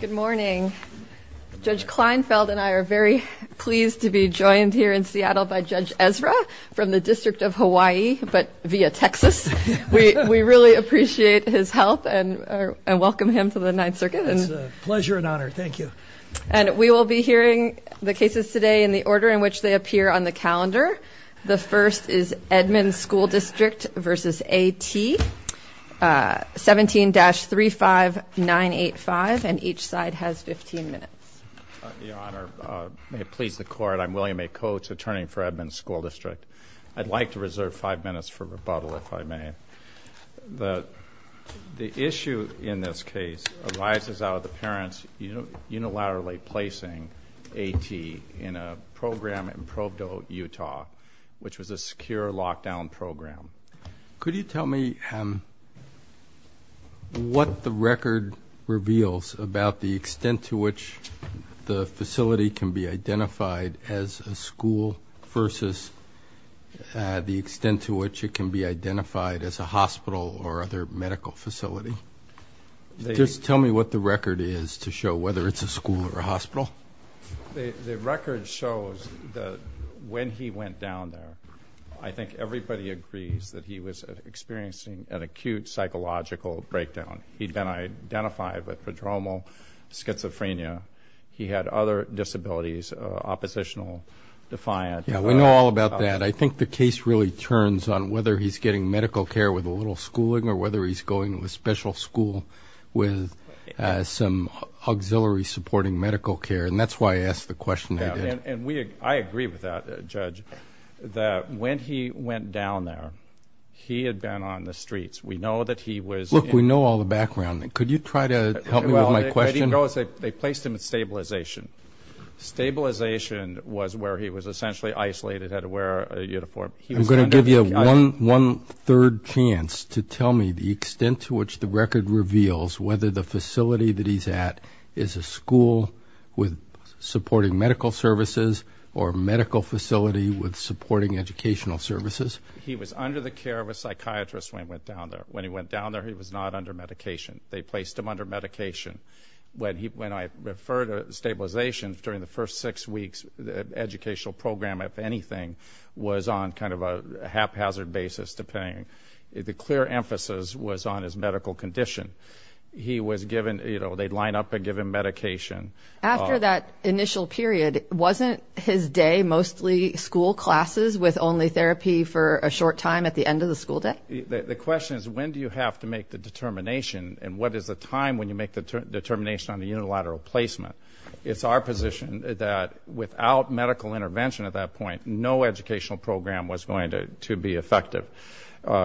Good morning. Judge Kleinfeld and I are very pleased to be joined here in Seattle by Judge Ezra from the District of Hawaii, but via Texas. We really appreciate his help and welcome him to the Ninth Circuit. It's a pleasure and honor, thank you. And we will be hearing the cases today in the order in which they appear on the calendar. The first is Edmonds School District v. A. T. 17-35985 and each side has 15 minutes. Your Honor, may it please the court, I'm William A. Coates, attorney for Edmonds School District. I'd like to reserve five minutes for rebuttal if I may. The issue in this case arises out of the parents unilaterally placing A. T. in a program in Provo, Utah, which was a lockdown program. Could you tell me what the record reveals about the extent to which the facility can be identified as a school versus the extent to which it can be identified as a hospital or other medical facility? Just tell me what the record is to show whether it's a school or a hospital. The record shows when he went down there, I think everybody agrees that he was experiencing an acute psychological breakdown. He'd been identified with pedromal schizophrenia. He had other disabilities, oppositional, defiant. Yeah, we know all about that. I think the case really turns on whether he's getting medical care with a little schooling or whether he's going to a special school with some auxiliary supporting medical care and that's why I asked the question. And we, I agree with that judge that when he went down there, he had been on the streets. We know that he was... Look, we know all the background. Could you try to help me with my question? Well, they placed him in stabilization. Stabilization was where he was essentially isolated, had to wear a uniform. I'm going to give you one third chance to tell me the extent to which the record reveals whether the facility that he's at is a school with supporting medical services or a medical facility with supporting educational services. He was under the care of a psychiatrist when he went down there. When he went down there, he was not under medication. They placed him under medication. When I refer to stabilization, during the first six weeks, the educational program, if anything, was on kind of a haphazard basis to paying. The clear emphasis was on his medical condition. He was given, you know, they'd line up and give him medication. After that initial period, wasn't his day mostly school classes with only therapy for a short time at the end of the school day? The question is when do you have to make the determination and what is the time when you make the determination on the unilateral placement? It's our position that without medical intervention at that point, no educational program was going to be effective.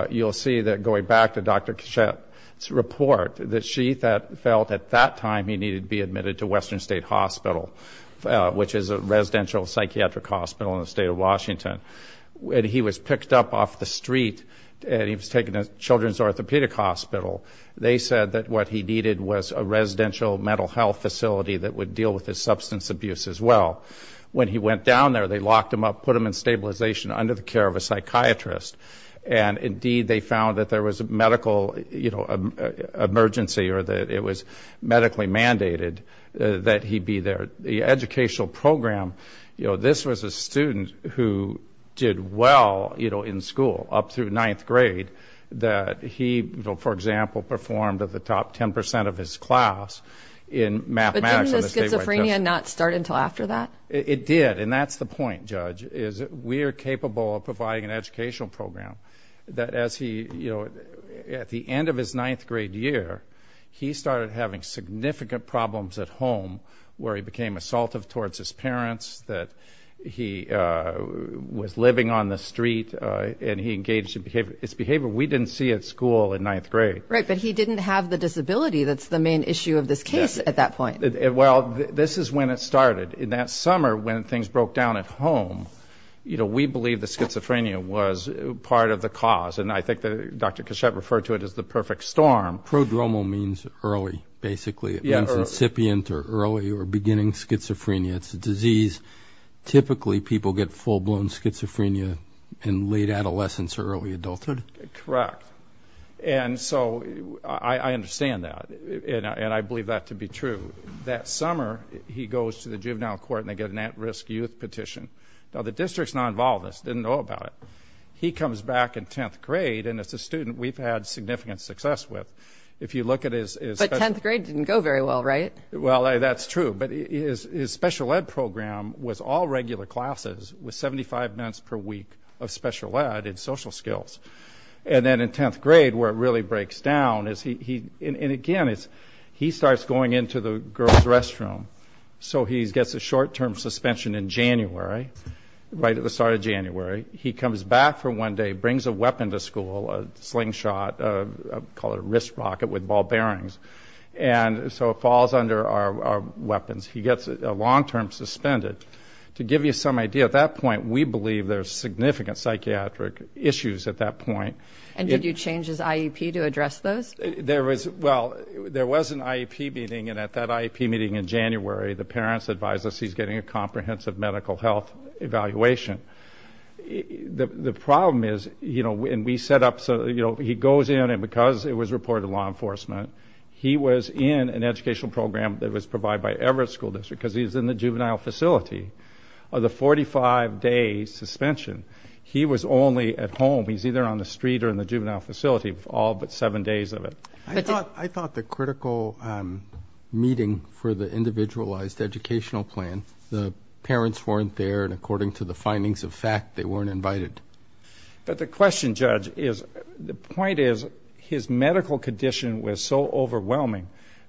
You'll see that going back to Dr. Kachet's report, that she felt at that time he needed to be admitted to Western State Hospital, which is a residential psychiatric hospital in the state of Washington. When he was picked up off the street and he was taken to Children's Orthopedic Hospital, they said that what he needed was a residential mental health facility that would deal with his substance abuse as well. When he went down there, they locked him up, put him in stabilization under the care of a psychiatrist, and indeed they found that there was a medical, you know, emergency or that it was medically mandated that he be there. The educational program, you know, this was a student who did well, you know, in school up through ninth grade that he, for example, performed at the top 10% of his class in mathematics. But didn't the schizophrenia not start until after that? It did, and that's the point, Judge, is we are capable of providing an educational program that as he, you know, at the end of his ninth grade year, he started having significant problems at home where he became assaultive towards his parents, that he was living on the street, and he engaged in behavior. It's behavior we didn't see at school in ninth grade. Right, but he didn't have the disability that's the main issue of this case at that point. Well, this is when it started. In that summer when things broke down at home, you know, we believe the schizophrenia was part of the cause, and I think that Dr. Kashet referred to it as the perfect storm. Prodromal means early, basically. It means incipient or early or beginning schizophrenia. It's a disease, typically people get full-blown schizophrenia in late adolescence or early adulthood. Correct, and so I understand that, and I believe that to be true. That summer, he goes to the juvenile court and they get an at-risk youth petition. Now, the district's not involved in this, didn't know about it. He comes back in tenth grade, and it's a student we've had significant success with. If you look at his... But tenth grade didn't go very well, right? Well, that's true, but his special ed program was all regular classes with 75 minutes per week of And then in tenth grade, where it really breaks down is he... And again, it's... He starts going into the girls' restroom, so he gets a short-term suspension in January, right at the start of January. He comes back for one day, brings a weapon to school, a slingshot, call it a wrist rocket with ball bearings, and so it falls under our weapons. He gets a long-term suspended. To give you some idea, at that point, we believe there's significant psychiatric issues at that point. And did you change his IEP to address those? There was... Well, there was an IEP meeting, and at that IEP meeting in January, the parents advised us he's getting a comprehensive medical health evaluation. The problem is, you know, when we set up... So, you know, he goes in, and because it was reported to law enforcement, he was in an educational program that was provided by Everett School District, because he's in the juvenile facility. Of the 45-day suspension, he was only at home. He's either on the street or in the juvenile facility, all but seven days of it. I thought the critical meeting for the individualized educational plan, the parents weren't there, and according to the findings of fact, they weren't invited. But the question, Judge, is... The point is, his medical condition was so overwhelming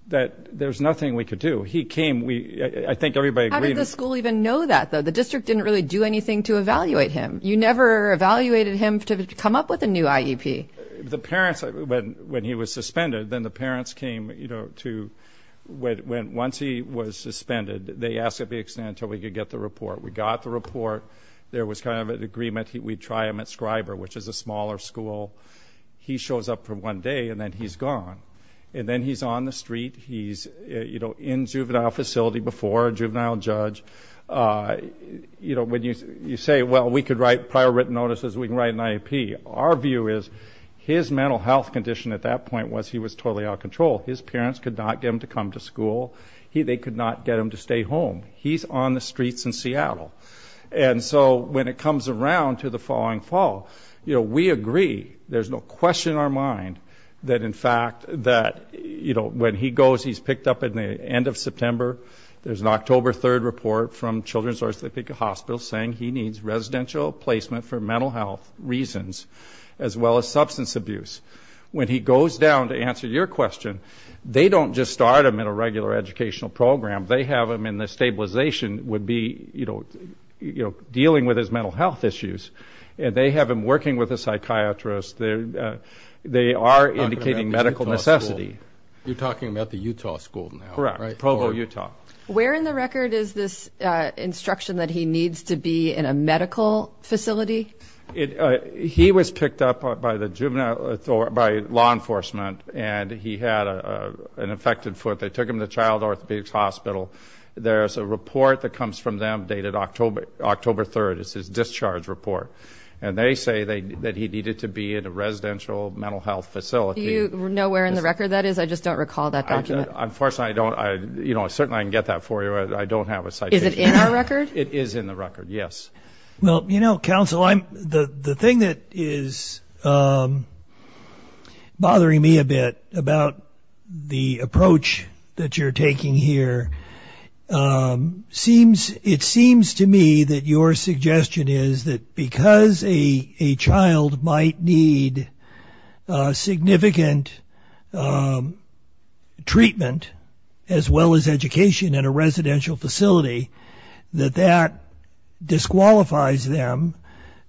that there's nothing we could do. He came, we... I think everybody agreed... How did the school even know that, though? The district didn't really do anything to evaluate him. You never evaluated him to come up with a new IEP. The parents... When he was suspended, then the parents came, you know, to... Once he was suspended, they asked to be extended until we could get the report. We got the report. There was kind of an agreement. We'd try him at Scriber, which is a smaller school. He shows up for one day, and then he's gone. And then he's on the street. He's, you know, in juvenile facility before a juvenile judge. You know, when you say, well, we could write prior written notices. We can write an IEP. Our view is, his mental health condition at that point was he was totally out of control. His parents could not get him to come to school. They could not get him to stay home. He's on the streets in Seattle. And so, when it comes around to the following fall, you know, we agree. There's no question in our mind that, in fact, that, you know, when he goes, he's picked up at the end of September. There's an October 3rd report from Children's Orthopedic Hospital saying he needs residential placement for mental health reasons, as well as substance abuse. When he goes down to answer your question, they don't just start him in a regular educational program. They have him in the stabilization, would be, you know, you know, dealing with his mental health issues. And they have him working with a psychiatrist. They are indicating medical necessity. You're talking about the Utah School now? Correct. Provo, Utah. Where in the record is this instruction that he needs to be in a medical facility? He was picked up by law enforcement and he had an infected foot. They took him to Child Orthopedics Hospital. There's a report that comes from them dated October 3rd. It's his discharge report. And they say that he needed to be in a residential mental health facility. Do you know where in the record that is? I just don't recall that. Unfortunately, I don't. You know, I certainly can get that for you. I don't have a citation. Is it in our record? It is in the record, yes. Well, you know, counsel, the thing that is bothering me a bit about the approach that you're taking here, it seems to me that your treatment, as well as education, in a residential facility, that disqualifies them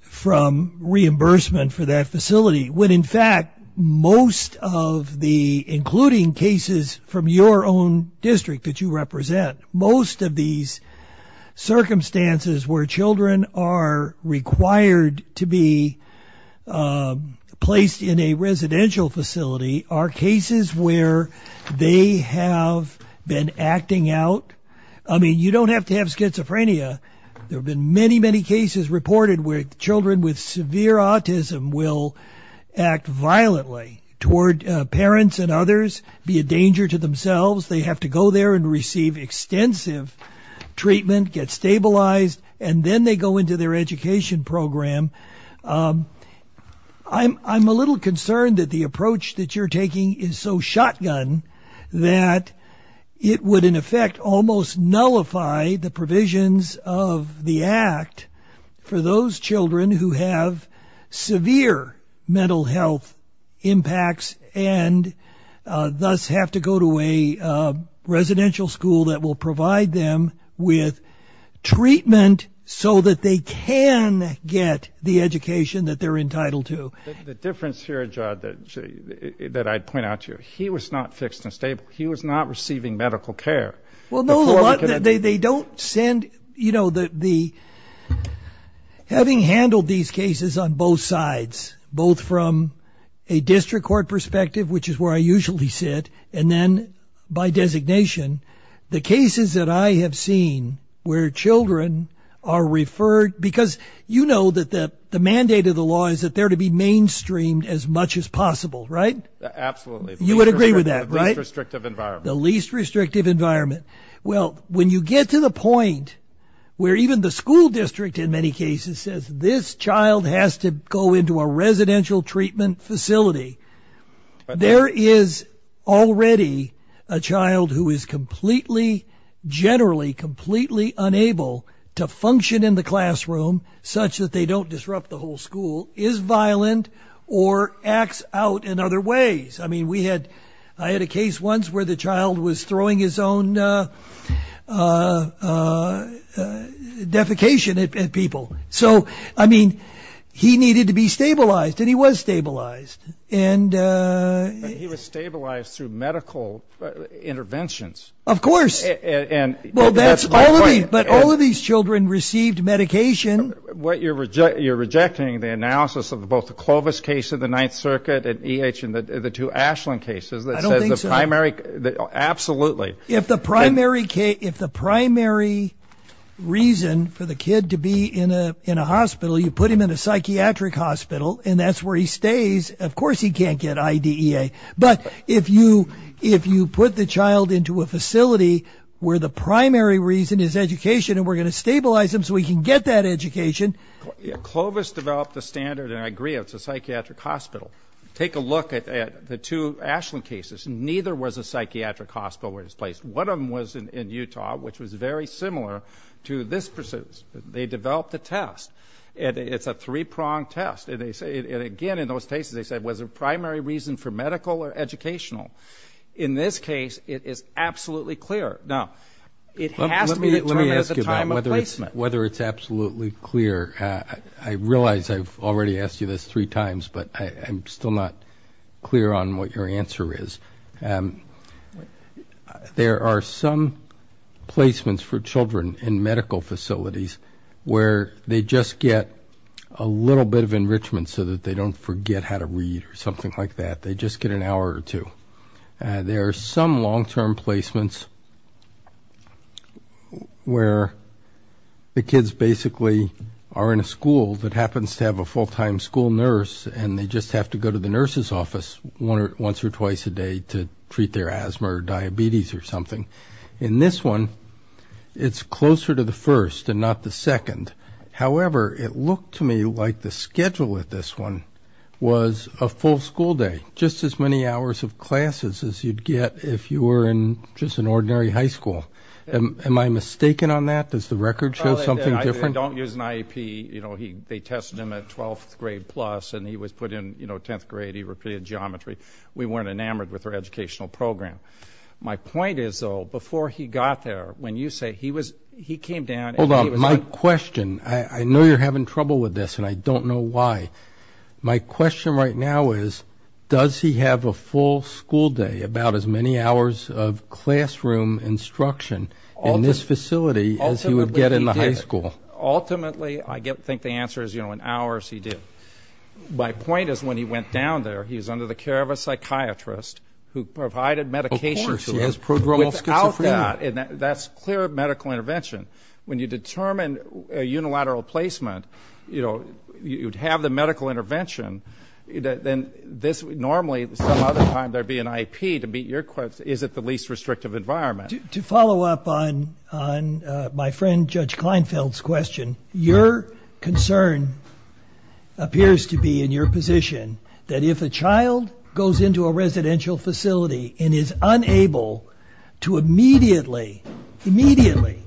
from reimbursement for that facility. When in fact, most of the, including cases from your own district that you represent, most of these circumstances where children are required to be placed in a residential facility are cases where they have been acting out. I mean, you don't have to have schizophrenia. There have been many, many cases reported where children with severe autism will act violently toward parents and others, be a danger to themselves. They have to go there and receive extensive treatment, get stabilized, and then they go into their education program. I'm a little concerned that the approach that you're taking is so shotgun that it would, in effect, almost nullify the provisions of the Act for those children who have severe mental health impacts and thus have to go to a residential school that will provide them with treatment so that they can get the education that they're that I'd point out to you. He was not fixed and stable. He was not receiving medical care. Well, no, they don't send, you know, that the, having handled these cases on both sides, both from a district court perspective, which is where I usually sit, and then by designation, the cases that I have seen where children are referred, because you know that the the mandate of the law is that they're to be mainstreamed as much as possible, right? Absolutely. You would agree with that, right? The least restrictive environment. Well, when you get to the point where even the school district, in many cases, says this child has to go into a residential treatment facility, there is already a child who is completely, generally, completely unable to function in the classroom such that they don't disrupt the whole school, is violent or acts out in other ways. I mean, we had, I had a case once where the child was throwing his own defecation at people. So, I mean, he needed to be stabilized and he was stabilized. And he was stabilized through medical interventions. Of course. And well, that's But all of these children received medication. What you're rejecting, you're rejecting the analysis of both the Clovis case of the Ninth Circuit and EH and the two Ashland cases. I don't think so. That says the primary, absolutely. If the primary case, if the primary reason for the kid to be in a in a hospital, you put him in a psychiatric hospital and that's where he stays, of course he can't get But if you, if you put the child into a facility where the primary reason is education and we're going to stabilize him so he can get that education. Clovis developed the standard, and I agree, it's a psychiatric hospital. Take a look at the two Ashland cases. Neither was a psychiatric hospital where it was placed. One of them was in Utah, which was very similar to this pursuit. They developed the test. It's a three-pronged test. And they say, again, in those cases, they have a primary reason for medical or educational. In this case, it is absolutely clear. Now, it has to be determined at the time of placement. Let me ask you that. Whether it's absolutely clear, I realize I've already asked you this three times, but I'm still not clear on what your answer is. There are some placements for children in medical facilities where they just get a little bit of enrichment so that they don't forget how to read or something like that. They just get an hour or two. There are some long-term placements where the kids basically are in a school that happens to have a full-time school nurse and they just have to go to the nurse's office once or twice a day to treat their asthma or diabetes or something. In this one, it's closer to the first and not the second. However, it looked to me like the schedule at this one was a full school day, just as many hours of classes as you'd get if you were in just an ordinary high school. Am I mistaken on that? Does the record show something different? I don't use an IEP. You know, they tested him at 12th grade plus and he was put in, you know, 10th grade. He repeated geometry. We weren't enamored with our educational program. My point is, though, before he got there, when you say he came down... Hold on. My question, I know you're having trouble with this and I don't know why. My question right now is, does he have a full school day, about as many hours of classroom instruction in this facility as he would get in the high school? Ultimately, I think the answer is, you know, in hours he did. My point is, when he went down there, he was under the care of a psychiatrist who provided medication to him. Of course, he has progromal schizophrenia. placement, you know, you'd have the medical intervention. Then this, normally, some other time there'd be an IEP. To meet your question, is it the least restrictive environment? To follow up on my friend Judge Kleinfeld's question, your concern appears to be, in your position, that if a child goes into a residential facility and is unable to immediately, immediately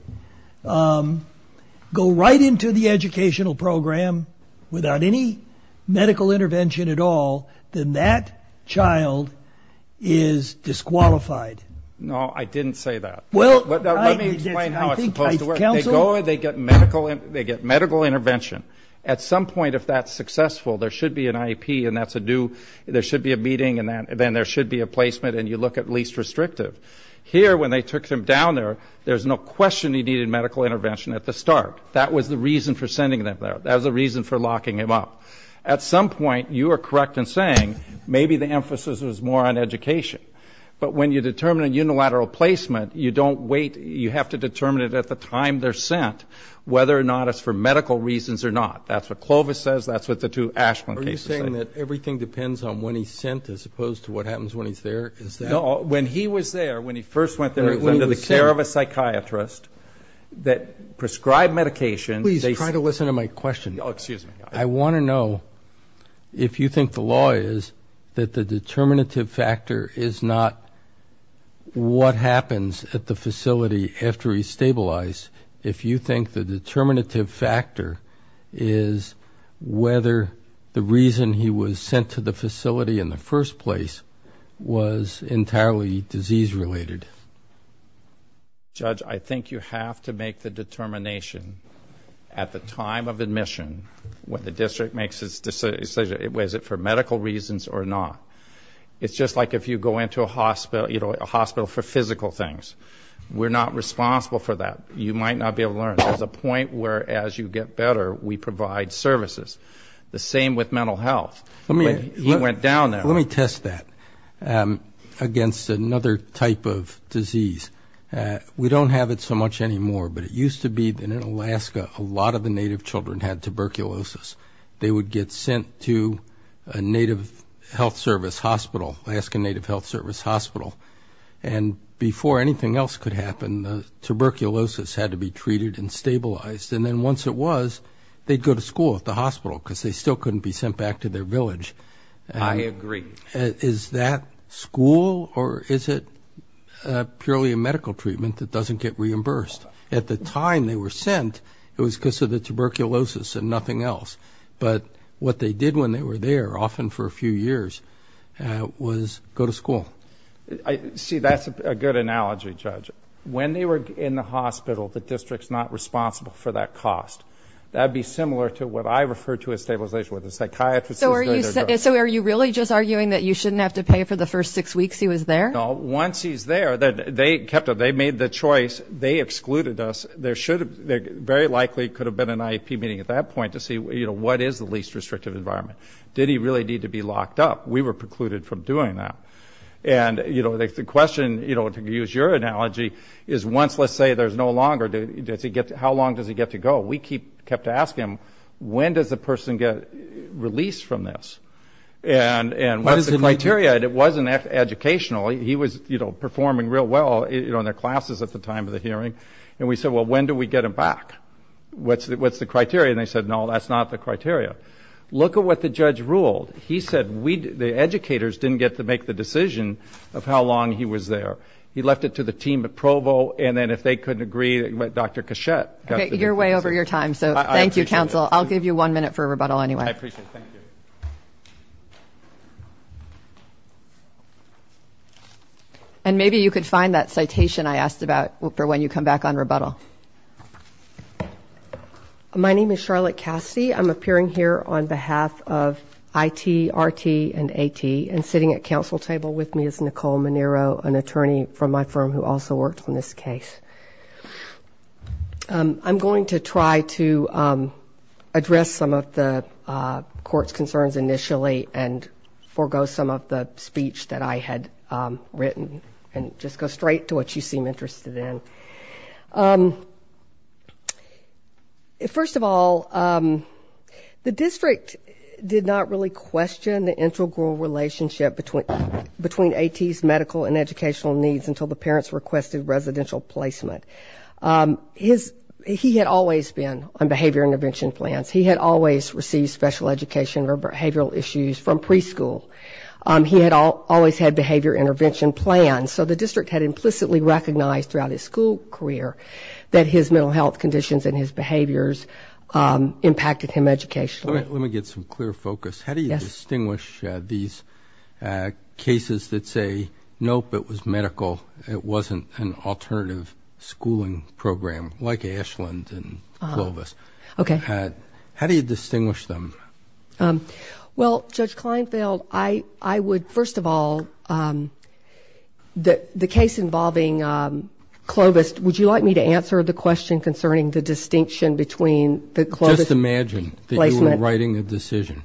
go right into the educational program without any medical intervention at all, then that child is disqualified. No, I didn't say that. Well, let me explain how it's supposed to work. They go, they get medical intervention. At some point, if that's successful, there should be an IEP and that's a new, there should be a meeting and then there should be a placement and you look at least restrictive. Here, when they took him down there, there's no question he needed medical intervention at the start. That was the reason for sending them there. That was the reason for locking him up. At some point, you are correct in saying, maybe the emphasis was more on education. But when you determine a unilateral placement, you don't wait, you have to determine it at the time they're sent, whether or not it's for medical reasons or not. That's what Clovis says, that's what the two Ashland cases say. Are you saying that everything depends on when he's sent as opposed to what happens when he's there? No, when he was there, when he first went there, it was under the care of a psychiatrist that prescribed medication. Please try to listen to my question. Oh, excuse me. I want to know if you think the law is that the determinative factor is not what happens at the facility after he's stabilized. If you think the determinative factor is whether the reason he was sent to the facility in the first place was entirely disease related. Judge, I think you have to make the determination at the time of admission when the district makes its decision, was it for medical reasons or not. It's just like if you go into a hospital, you know, a hospital for physical things. We're not responsible for that. You might not be able to learn. There's a point where as you get better, we provide services. The same with mental health. He went down there. Let me test that against another type of disease. We don't have it so much anymore, but it used to be that in Alaska, a lot of the native children had tuberculosis. They would get sent to a native health service hospital, Alaskan Native Health Service Hospital. And before anything else could happen, the tuberculosis had to be treated and stabilized. And then once it was, they'd go to school at the hospital because they still couldn't be sent back to their village. I agree. Is that school or is it purely a medical treatment that doesn't get reimbursed? At the time they were sent, it was because of the tuberculosis and nothing else. But what they did when they were there, often for a few years, was go to school. See, that's a good analogy, Judge. When they were in the hospital, the district's not responsible for that cost. That'd be So are you really just arguing that you shouldn't have to pay for the first six weeks he was there? No. Once he's there, they kept him. They made the choice. They excluded us. There should have, very likely, could have been an IEP meeting at that point to see, you know, what is the least restrictive environment. Did he really need to be locked up? We were precluded from doing that. And, you know, the question, you know, to use your analogy, is once, let's say, there's no longer, how long does he get to go? We kept asking him, when does a person get released from this? And what's the criteria? And it wasn't educational. He was, you know, performing real well, you know, in their classes at the time of the hearing. And we said, well, when do we get him back? What's the criteria? And they said, no, that's not the criteria. Look at what the judge ruled. He said, we, the educators, didn't get to make the decision of how long he was there. He left it to the team at Provo, and then if they couldn't agree, Dr. Cachette. Okay, you're way over your time, so thank you, counsel. I'll give you one minute for a rebuttal anyway. I appreciate it, thank you. And maybe you could find that citation I asked about for when you come back on rebuttal. My name is Charlotte Cassidy. I'm appearing here on behalf of IT, RT, and AT, and sitting at counsel table with me is Nicole Manero, an attorney from my firm who also worked on this case. I'm going to try to address some of the court's concerns initially and forego some of the speech that I had written and just go straight to what you seem interested in. First of all, the district did not really question the integral relationship between AT's medical and educational needs until the presidential placement. He had always been on behavior intervention plans. He had always received special education or behavioral issues from preschool. He had always had behavior intervention plans, so the district had implicitly recognized throughout his school career that his mental health conditions and his behaviors impacted him educationally. Let me get some clear focus. How do you distinguish these cases that say, nope, it was medical, it wasn't an alternative schooling program like Ashland and Clovis? Okay. How do you distinguish them? Well, Judge Kleinfeld, I would, first of all, the case involving Clovis, would you like me to answer the question concerning the distinction between the Clovis placement? That you were writing the decision.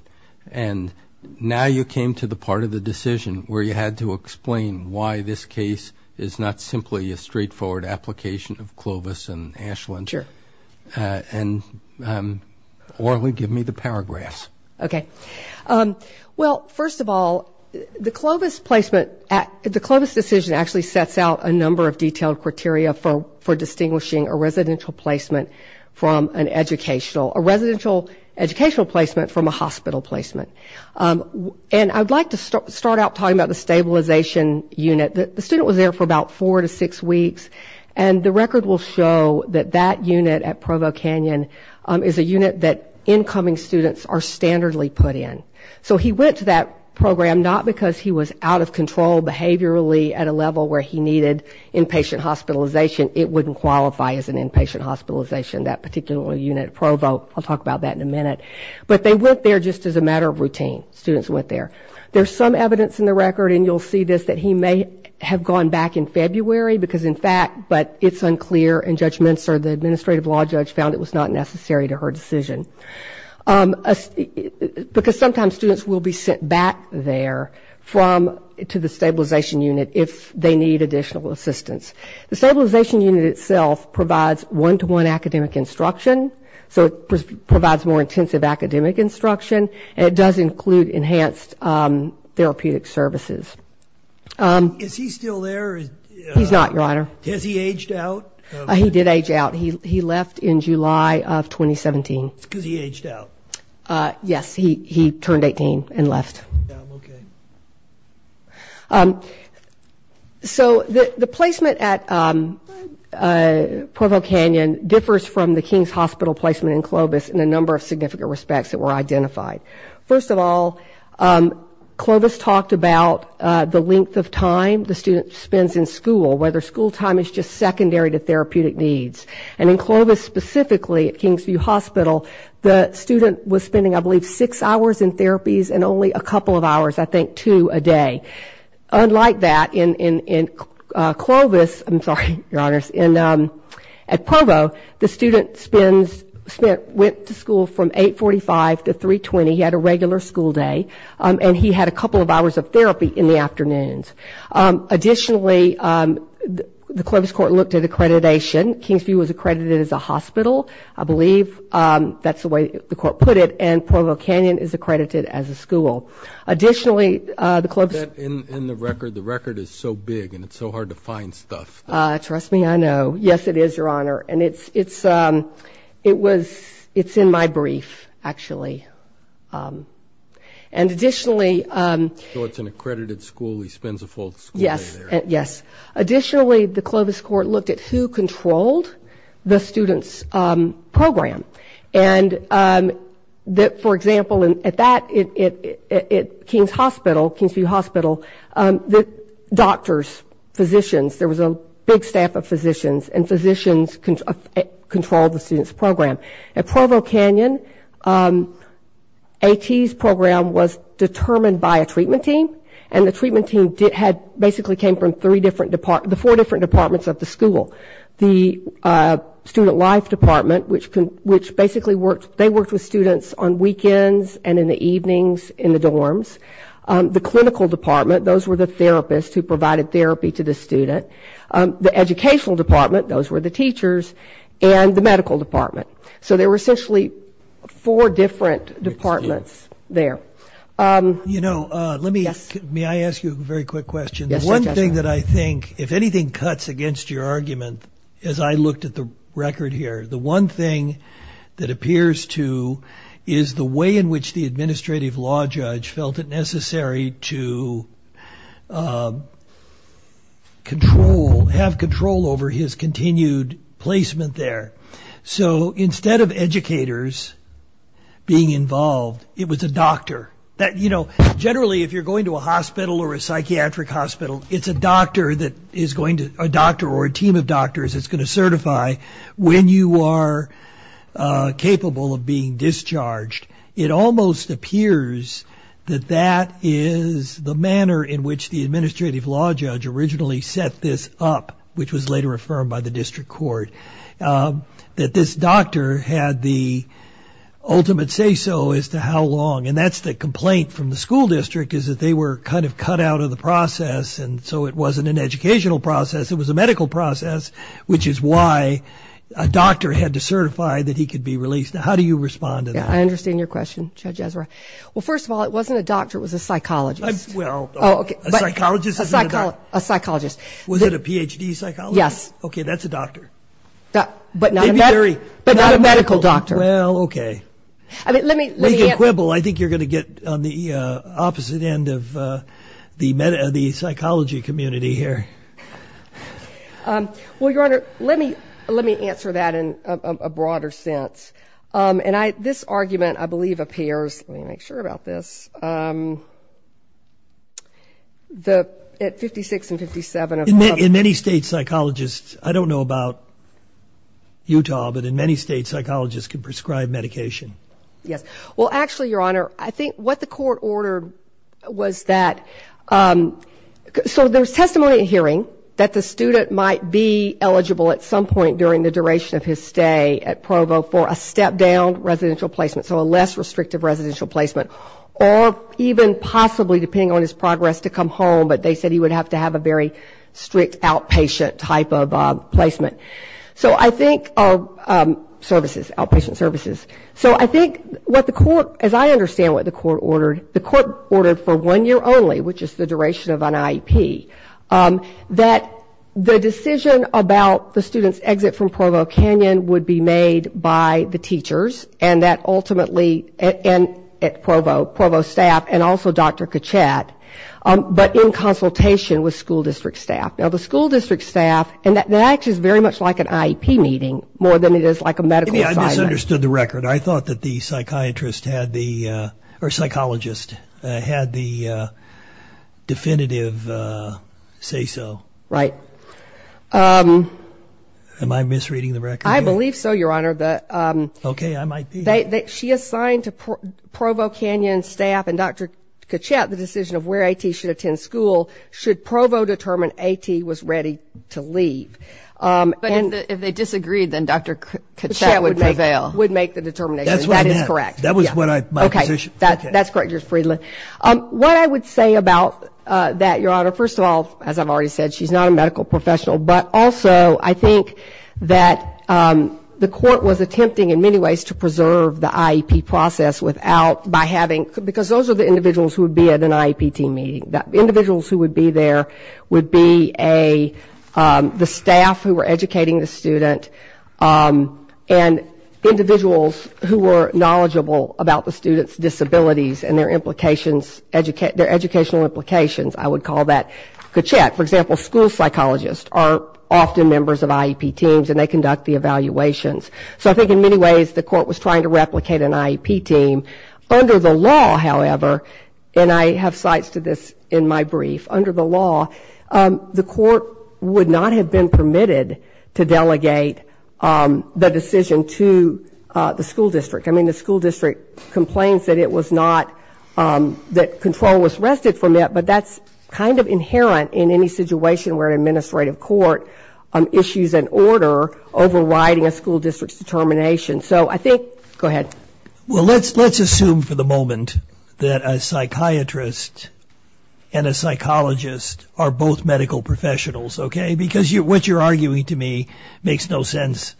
And now you came to the part of the decision where you had to explain why this case is not simply a straightforward application of Clovis and Ashland. Sure. Or, give me the paragraphs. Okay. Well, first of all, the Clovis placement, the Clovis decision actually sets out a number of detailed criteria for distinguishing a residential placement from an educational, a residential educational placement from a hospital placement. And I'd like to start out talking about the stabilization unit. The student was there for about four to six weeks, and the record will show that that unit at Provo Canyon is a unit that incoming students are standardly put in. So he went to that program not because he was out of control behaviorally at a level where he needed inpatient hospitalization. It wouldn't qualify as an hospitalization, that particular unit at Provo. I'll talk about that in a minute. But they went there just as a matter of routine. Students went there. There's some evidence in the record, and you'll see this, that he may have gone back in February because, in fact, but it's unclear, and Judge Minster, the administrative law judge, found it was not necessary to her decision. Because sometimes students will be sent back there from, to the stabilization unit if they need additional assistance. The stabilization unit itself provides one to one academic instruction. So it provides more intensive academic instruction, and it does include enhanced therapeutic services. Is he still there? He's not, your honor. Has he aged out? He did age out. He left in July of 2017. Because he aged out? Yes, he turned 18 and left. So the placement at Provo Canyon differs from the King's Hospital placement in Clovis in a number of significant respects that were identified. First of all, Clovis talked about the length of time the student spends in school, whether school time is just secondary to therapeutic needs. And in Clovis specifically, at Kingsview Hospital, the student was spending, I believe, six hours in therapies and only a couple of hours, I think, two a day. Unlike that, in Clovis, I'm sorry, your honors, at Provo, the student went to school from 845 to 320. He had a regular school day, and he had a couple of hours of therapy in the afternoons. Additionally, the Clovis court looked at accreditation. Kingsview was accredited as a hospital, I believe that's the way the court put it, and Provo Canyon is accredited as a school. Additionally, in the record, the record is so big and it's so hard to find stuff. Trust me, I know. Yes, it is, your honor. And it's, it's, it was, it's in my brief, actually. And additionally, so it's an accredited school, he spends a full school day there. Yes, yes. Additionally, the Clovis court looked at who controlled the student's program. And that, for example, at that, at Kings Hospital, Kingsview Hospital, the doctors, physicians, there was a big staff of physicians, and physicians controlled the student's program. At Provo Canyon, AT's program was determined by a treatment team, and the treatment team did, had, basically came from three different departments, the four different departments of the school. The student life department, which can, which basically worked, they worked with students on weekends and in the evenings in the dorms. The clinical department, those were the therapists who provided therapy to the student. The educational department, those were the teachers, and the medical department. So there were essentially four different departments there. You know, let me, may I ask you a very quick question? One thing that I think, if anything cuts against your argument, as I looked at the record here, the one thing that appears to, is the way in which the administrative law judge felt it necessary to control, have control over his continued placement there. So instead of educators being involved, it was a doctor. That, you know, generally if you're going to a hospital or a psychiatric hospital, it's a doctor that is going to, a doctor or a team of doctors that's going to certify when you are capable of being discharged. It almost appears that that is the manner in which the administrative law judge originally set this up, which was later affirmed by the district court, that this doctor had the ultimate say-so as to how long. And that's the complaint from the school district, is that they were kind of cut out of the process, and so it wasn't an educational process, it was a medical process, which is why a doctor had to certify that he could be released. Now, how do you respond to that? I understand your question, Judge Ezra. Well, first of all, it wasn't a doctor, it was a psychologist. Well, a psychologist. Was it a PhD psychologist? Yes. Okay, that's a doctor. But not a medical doctor. Well, okay. I think you're going to get on the opposite end of the psychology community here. Well, Your Honor, let me answer that in a broader sense. And this argument, I believe, appears, let me make sure about this, at 56 and 57... In many states, psychologists, I don't know about Utah, but in many states, psychologists can prescribe medication. Yes. Well, actually, Your Honor, I think what the court ordered was that, so there's testimony and hearing that the student might be eligible at some point during the duration of his stay at Provo for a step-down residential placement, so a less restrictive residential placement, or even possibly, depending on his progress, to come home, but they said he would have to have a very strict outpatient type of placement. So I think our services, outpatient services. So I think what the court, as I understand what the court ordered, the court ordered for one year only, which is the duration of an IEP, that the decision about the student's exit from Provo Canyon would be made by the teachers and that ultimately, and at Provo, Provo staff, and also Dr. Kachat, but in consultation with school district staff. Now, the school district staff, and that actually is very much like an IEP meeting, more than it is like a medical assignment. I misunderstood the record. I thought that the psychiatrist had the, or psychologist, had the definitive say-so. Right. Am I misreading the record? I might be. She assigned to Provo Canyon staff and Dr. Kachat the decision of where AT should attend school should Provo determine AT was ready to leave. But if they disagreed, then Dr. Kachat would make the determination. That's what I meant. That is correct. That was what I, my position. Okay, that's correct, Judge Friedland. What I would say about that, Your Honor, first of all, as I've already said, she's not a medical professional, but also I think that the IEP process without, by having, because those are the individuals who would be at an IEP team meeting. Individuals who would be there would be a, the staff who were educating the student, and individuals who were knowledgeable about the student's disabilities and their implications, their educational implications, I would call that Kachat. For example, school psychologists are often members of IEP teams, and they conduct the evaluations. So I think in many ways the court was trying to replicate an IEP team. Under the law, however, and I have cites to this in my brief, under the law, the court would not have been permitted to delegate the decision to the school district. I mean, the school district complains that it was not, that control was wrested from it, but that's kind of inherent in any situation where an administrative court issues an order overriding a school district's determination. So I think, go ahead. Well, let's, let's assume for the moment that a psychiatrist and a psychologist are both medical professionals, okay? Because you, what you're arguing to me makes no sense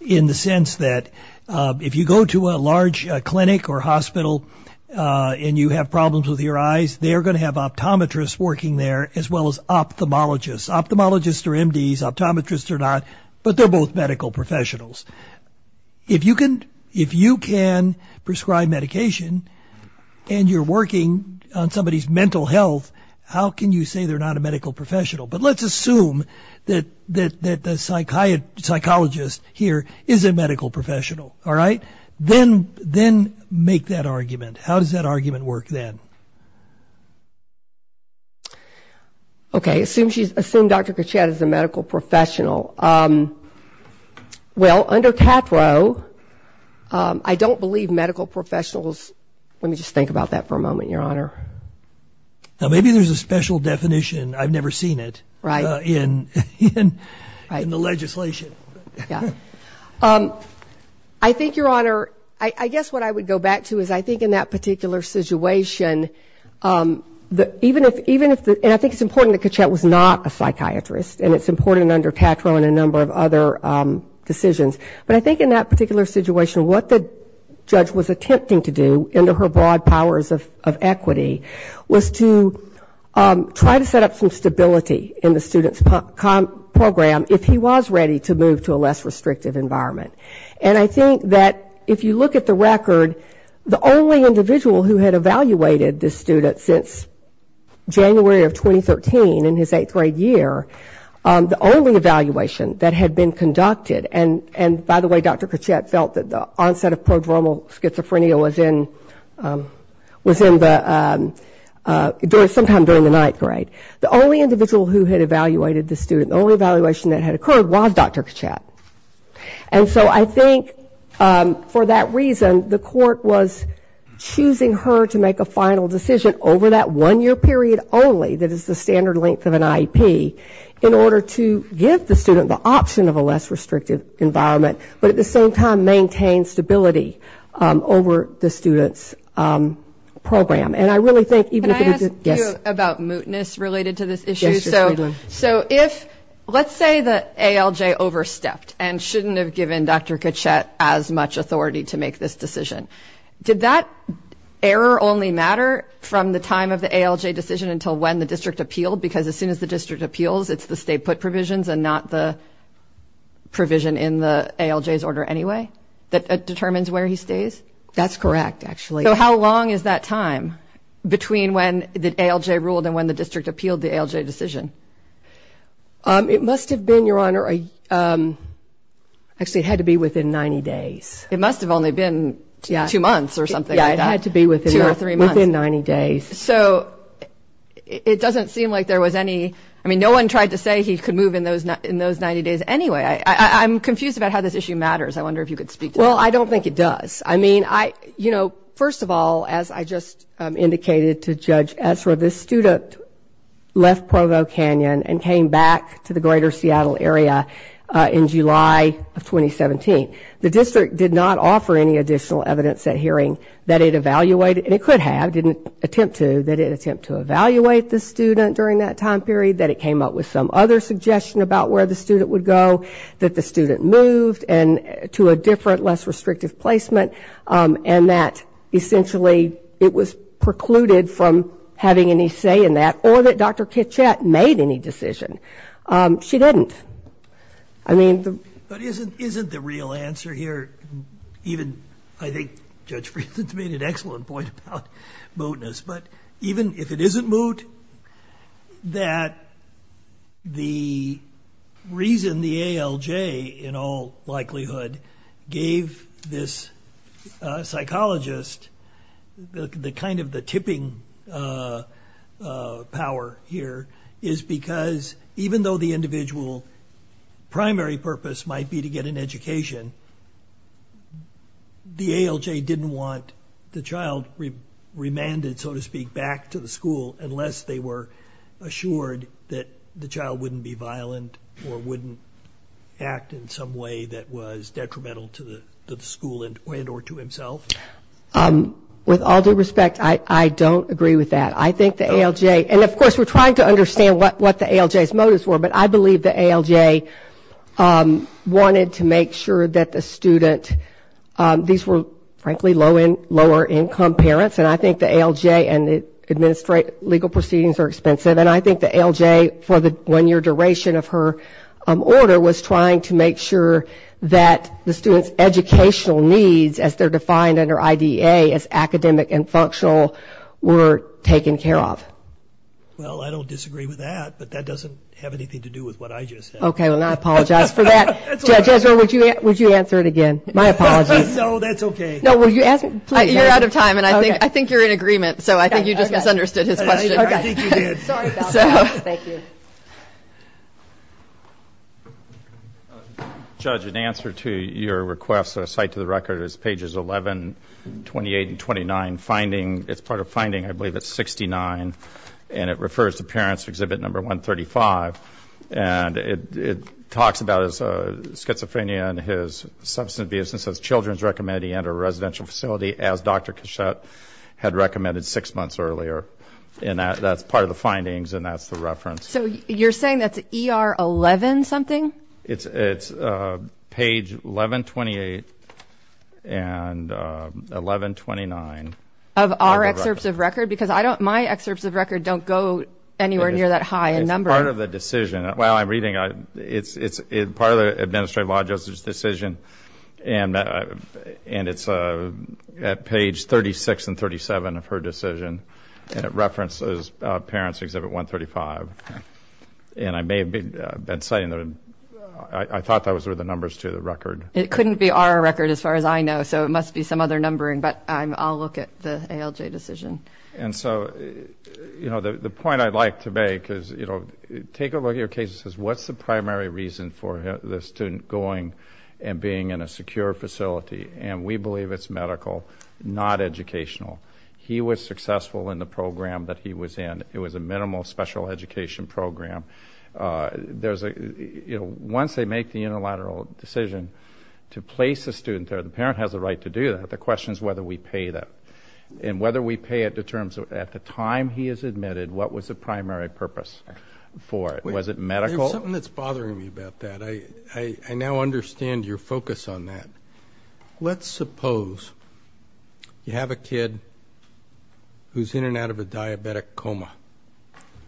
in the sense that if you go to a large clinic or hospital and you have problems with your eyes, they are going to have ophthalmologists. Ophthalmologists are MDs, optometrists are not, but they're both medical professionals. If you can, if you can prescribe medication and you're working on somebody's mental health, how can you say they're not a medical professional? But let's assume that, that, that the psychiatrist, psychologist here is a medical professional, all right? Then, then make that argument. How does that work? Okay. Assume she's, assume Dr. Kachat is a medical professional. Well, under CAFRO, I don't believe medical professionals, let me just think about that for a moment, Your Honor. Now, maybe there's a special definition, I've never seen it. Right. In, in the legislation. Yeah. I think, Your Honor, I guess what I would go back to is I think in that particular situation, that even if, even if, and I think it's important that Kachat was not a psychiatrist, and it's important under TATRO and a number of other decisions, but I think in that particular situation, what the judge was attempting to do into her broad powers of equity was to try to set up some stability in the student's program if he was ready to move to a less restrictive environment. And I think that if you look at the record, the only individual who had evaluated this student since January of 2013 in his eighth grade year, the only evaluation that had been conducted, and by the way, Dr. Kachat felt that the onset of prodromal schizophrenia was in, was in the, during, sometime during the ninth grade, the only individual who had evaluated this student, the only evaluation that had occurred was Dr. Kachat. And so I think for that reason, the court was choosing her to make a final decision over that one year period only, that is the standard length of an IEP, in order to give the student the option of a less restrictive environment, but at the same time maintain stability over the student's program. And I really think even if it was, yes? Can I ask you about mootness related to this issue? Yes, Ms. Midland. So if, let's say that ALJ overstepped and shouldn't have given Dr. Kachat as much authority to make this decision, did that error only matter from the time of the ALJ decision until when the district appealed? Because as soon as the district appeals, it's the stay put provisions and not the provision in the ALJ's order anyway that determines where he stays? That's correct, actually. So how long is that time between when the ALJ ruled and when the district appealed the ALJ decision? It must have been, Your Honor, actually it had to be within 90 days. It must have only been two months or something like that. Yeah, it had to be within 90 days. So it doesn't seem like there was any, I mean, no one tried to say he could move in those 90 days anyway. I'm confused about how this issue matters. I wonder if you could speak to that. Well, I don't think it does. I mean, I, you know, first of all, as I just said, the district did not offer any additional evidence at hearing that it evaluated, and it could have, didn't attempt to, that it attempted to evaluate the student during that time period, that it came up with some other suggestion about where the student would go, that the student moved to a different, less restrictive placement, and that essentially it was precluded from having any say in that, or that Dr. Kitchat made that decision. didn't attempt to, that it attempted to evaluate the student during that time period, and it came up with some other suggestion about where the restrictive placement, and that essentially it was precluded from having any say in that, or that Dr. Kitchat made that decision. She didn't. I mean... But isn't the real answer here, even, I think Judge Friedland made an excellent point about mootness, but even if it isn't moot, that the reason the ALJ, in all likelihood, gave this psychologist the kind of the tipping the ALJ, in all likelihood, gave this psychologist the kind of the tipping power here, is because even though the individual primary purpose might power here, is because even though the individual primary purpose might be to get an education, the ALJ didn't want be to get an education, the ALJ didn't want the child remanded, so to speak, back to the school unless the child remanded, so to speak, back to the school unless they were assured that the child wouldn't be violent, or wouldn't act in some way that was detrimental to the school or to himself? With all due respect, I don't agree with that. I think the ALJ, and of course we're trying to understand what the ALJ's motives were, but I believe the ALJ wanted to make sure that the student, these were frankly lower income parents, and I think the ALJ and the legal proceedings are expensive, and I think the ALJ, for the one year duration of her order, was trying to make sure that the student's educational needs, as they're defined under IDA, as academic and functional, were taken care of. Well, I don't disagree with that, but that doesn't have anything to do with what I just said. Okay, well I apologize for that. Judge Ezra, would you answer it again? My apologies. No, that's okay. You're out of time, and I think you're in agreement, so I think you just misunderstood his question. I think you did. Thank you. Judge, in answer to your request, a site to the record is pages 11, 28, and 29. It's part of finding, I believe it's 69, and it refers to parents exhibit number 135, and it talks about his schizophrenia and his substance abuse, and says children's recommended he enter a residential facility, as Dr. Cachette had recommended six months earlier. And that's part of the findings, and that's the reference. So you're saying that's ER 11-something? It's page 11, 28, and 11, 29. Of our excerpts of record? Because my excerpts of record don't go anywhere near that high in number. It's part of the decision. While I'm reading, it's part of the Administrative Law Justice decision, and it's at page 36 and 37 of her decision, and it references parents exhibit 135. And I may have been saying that I thought those were the numbers to the record. It couldn't be our record as far as I know, so it must be some other numbering, but I'll look at the ALJ decision. The point I'd like to make is take a look at your case and say, what's the primary reason for the student going and being in a secure facility? And we believe it's medical, not educational. He was successful in the program that he was in. It was a minimal special education program. Once they make the unilateral decision to place a student there, the parent has the right to do that. The question is whether we pay that. And whether we pay it determines, at the time he is admitted, what was the primary purpose for it. There's something that's bothering me about that. I now understand your focus on that. Let's suppose you have a kid who's in and out of a diabetic coma.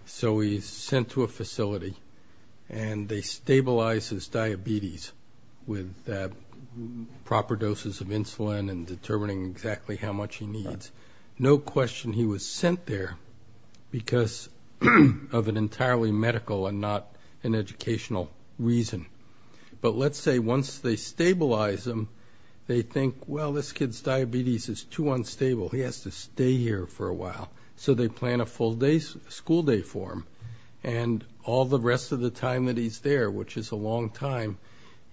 So he's sent to a facility and they stabilize his diabetes with proper doses of insulin and determining exactly how much he needs. No question he was sent there because of an entirely medical and not an educational reason. But let's say once they stabilize him, they think, well, this kid's diabetes is too unstable. He has to stay here for a while. So they plan a school day for him. And all the rest of the time that he's there, which is a long time,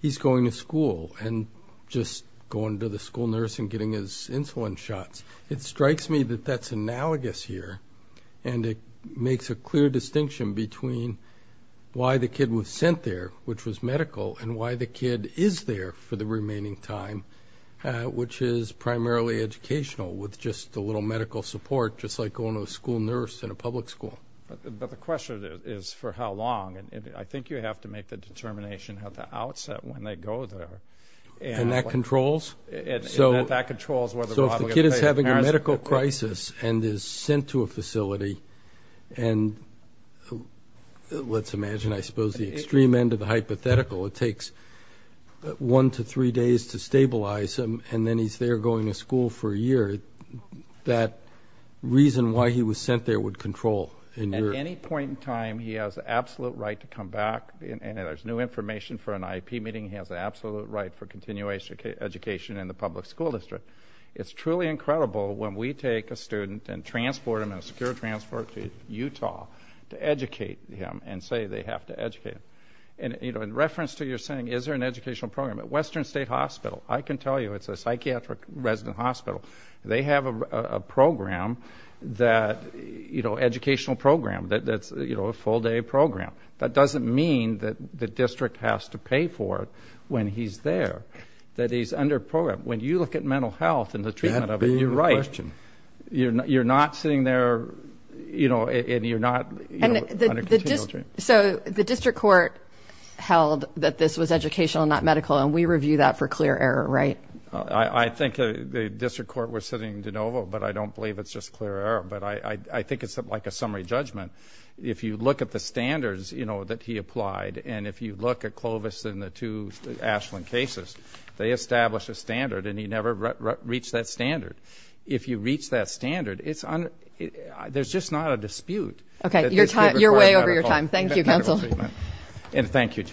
he's going to school and just going to the school nurse and getting his insulin shots. It strikes me that that's analogous here. And it makes a clear distinction between why the kid was sent there, which was medical, and why the kid is there for the remaining time, which is primarily educational with just a little medical support, just like going to a school nurse in a public school. But the question is for how long? I think you have to make the determination at the outset when they go there. And that controls? So if the kid is having a medical crisis and is sent to a facility and let's imagine, I suppose, the extreme end of the hypothetical. It takes one to three days to stabilize him. And then he's there going to school for a year. That reason why he was sent there would control. At any point in time, he has absolute right to come back. And there's new information for an IEP meeting. He has absolute right for continuation of education in the public school district. It's truly incredible when we take a student and transport him in a secure transport to Utah to educate him and say they have to educate him. In reference to your saying, is there an educational program? At Western State Hospital, I can tell you it's a psychiatric resident hospital. They have a program educational program that's a full day program. That doesn't mean that the district has to pay for it when he's there. That he's under program. When you look at mental health and the treatment of it, you're right. You're not sitting there and you're not under continual treatment. So the district court held that this was educational and not medical and we review that for clear error, right? I think the district court was sitting in DeNovo, but I don't believe it's just clear error. I think it's like a summary judgment. If you look at the Clovis and the two Ashland cases, they establish a standard and he never reached that standard. If you reach that standard, there's just not a dispute. Your way over your time. Thank you, Counsel. Thank you, Judge.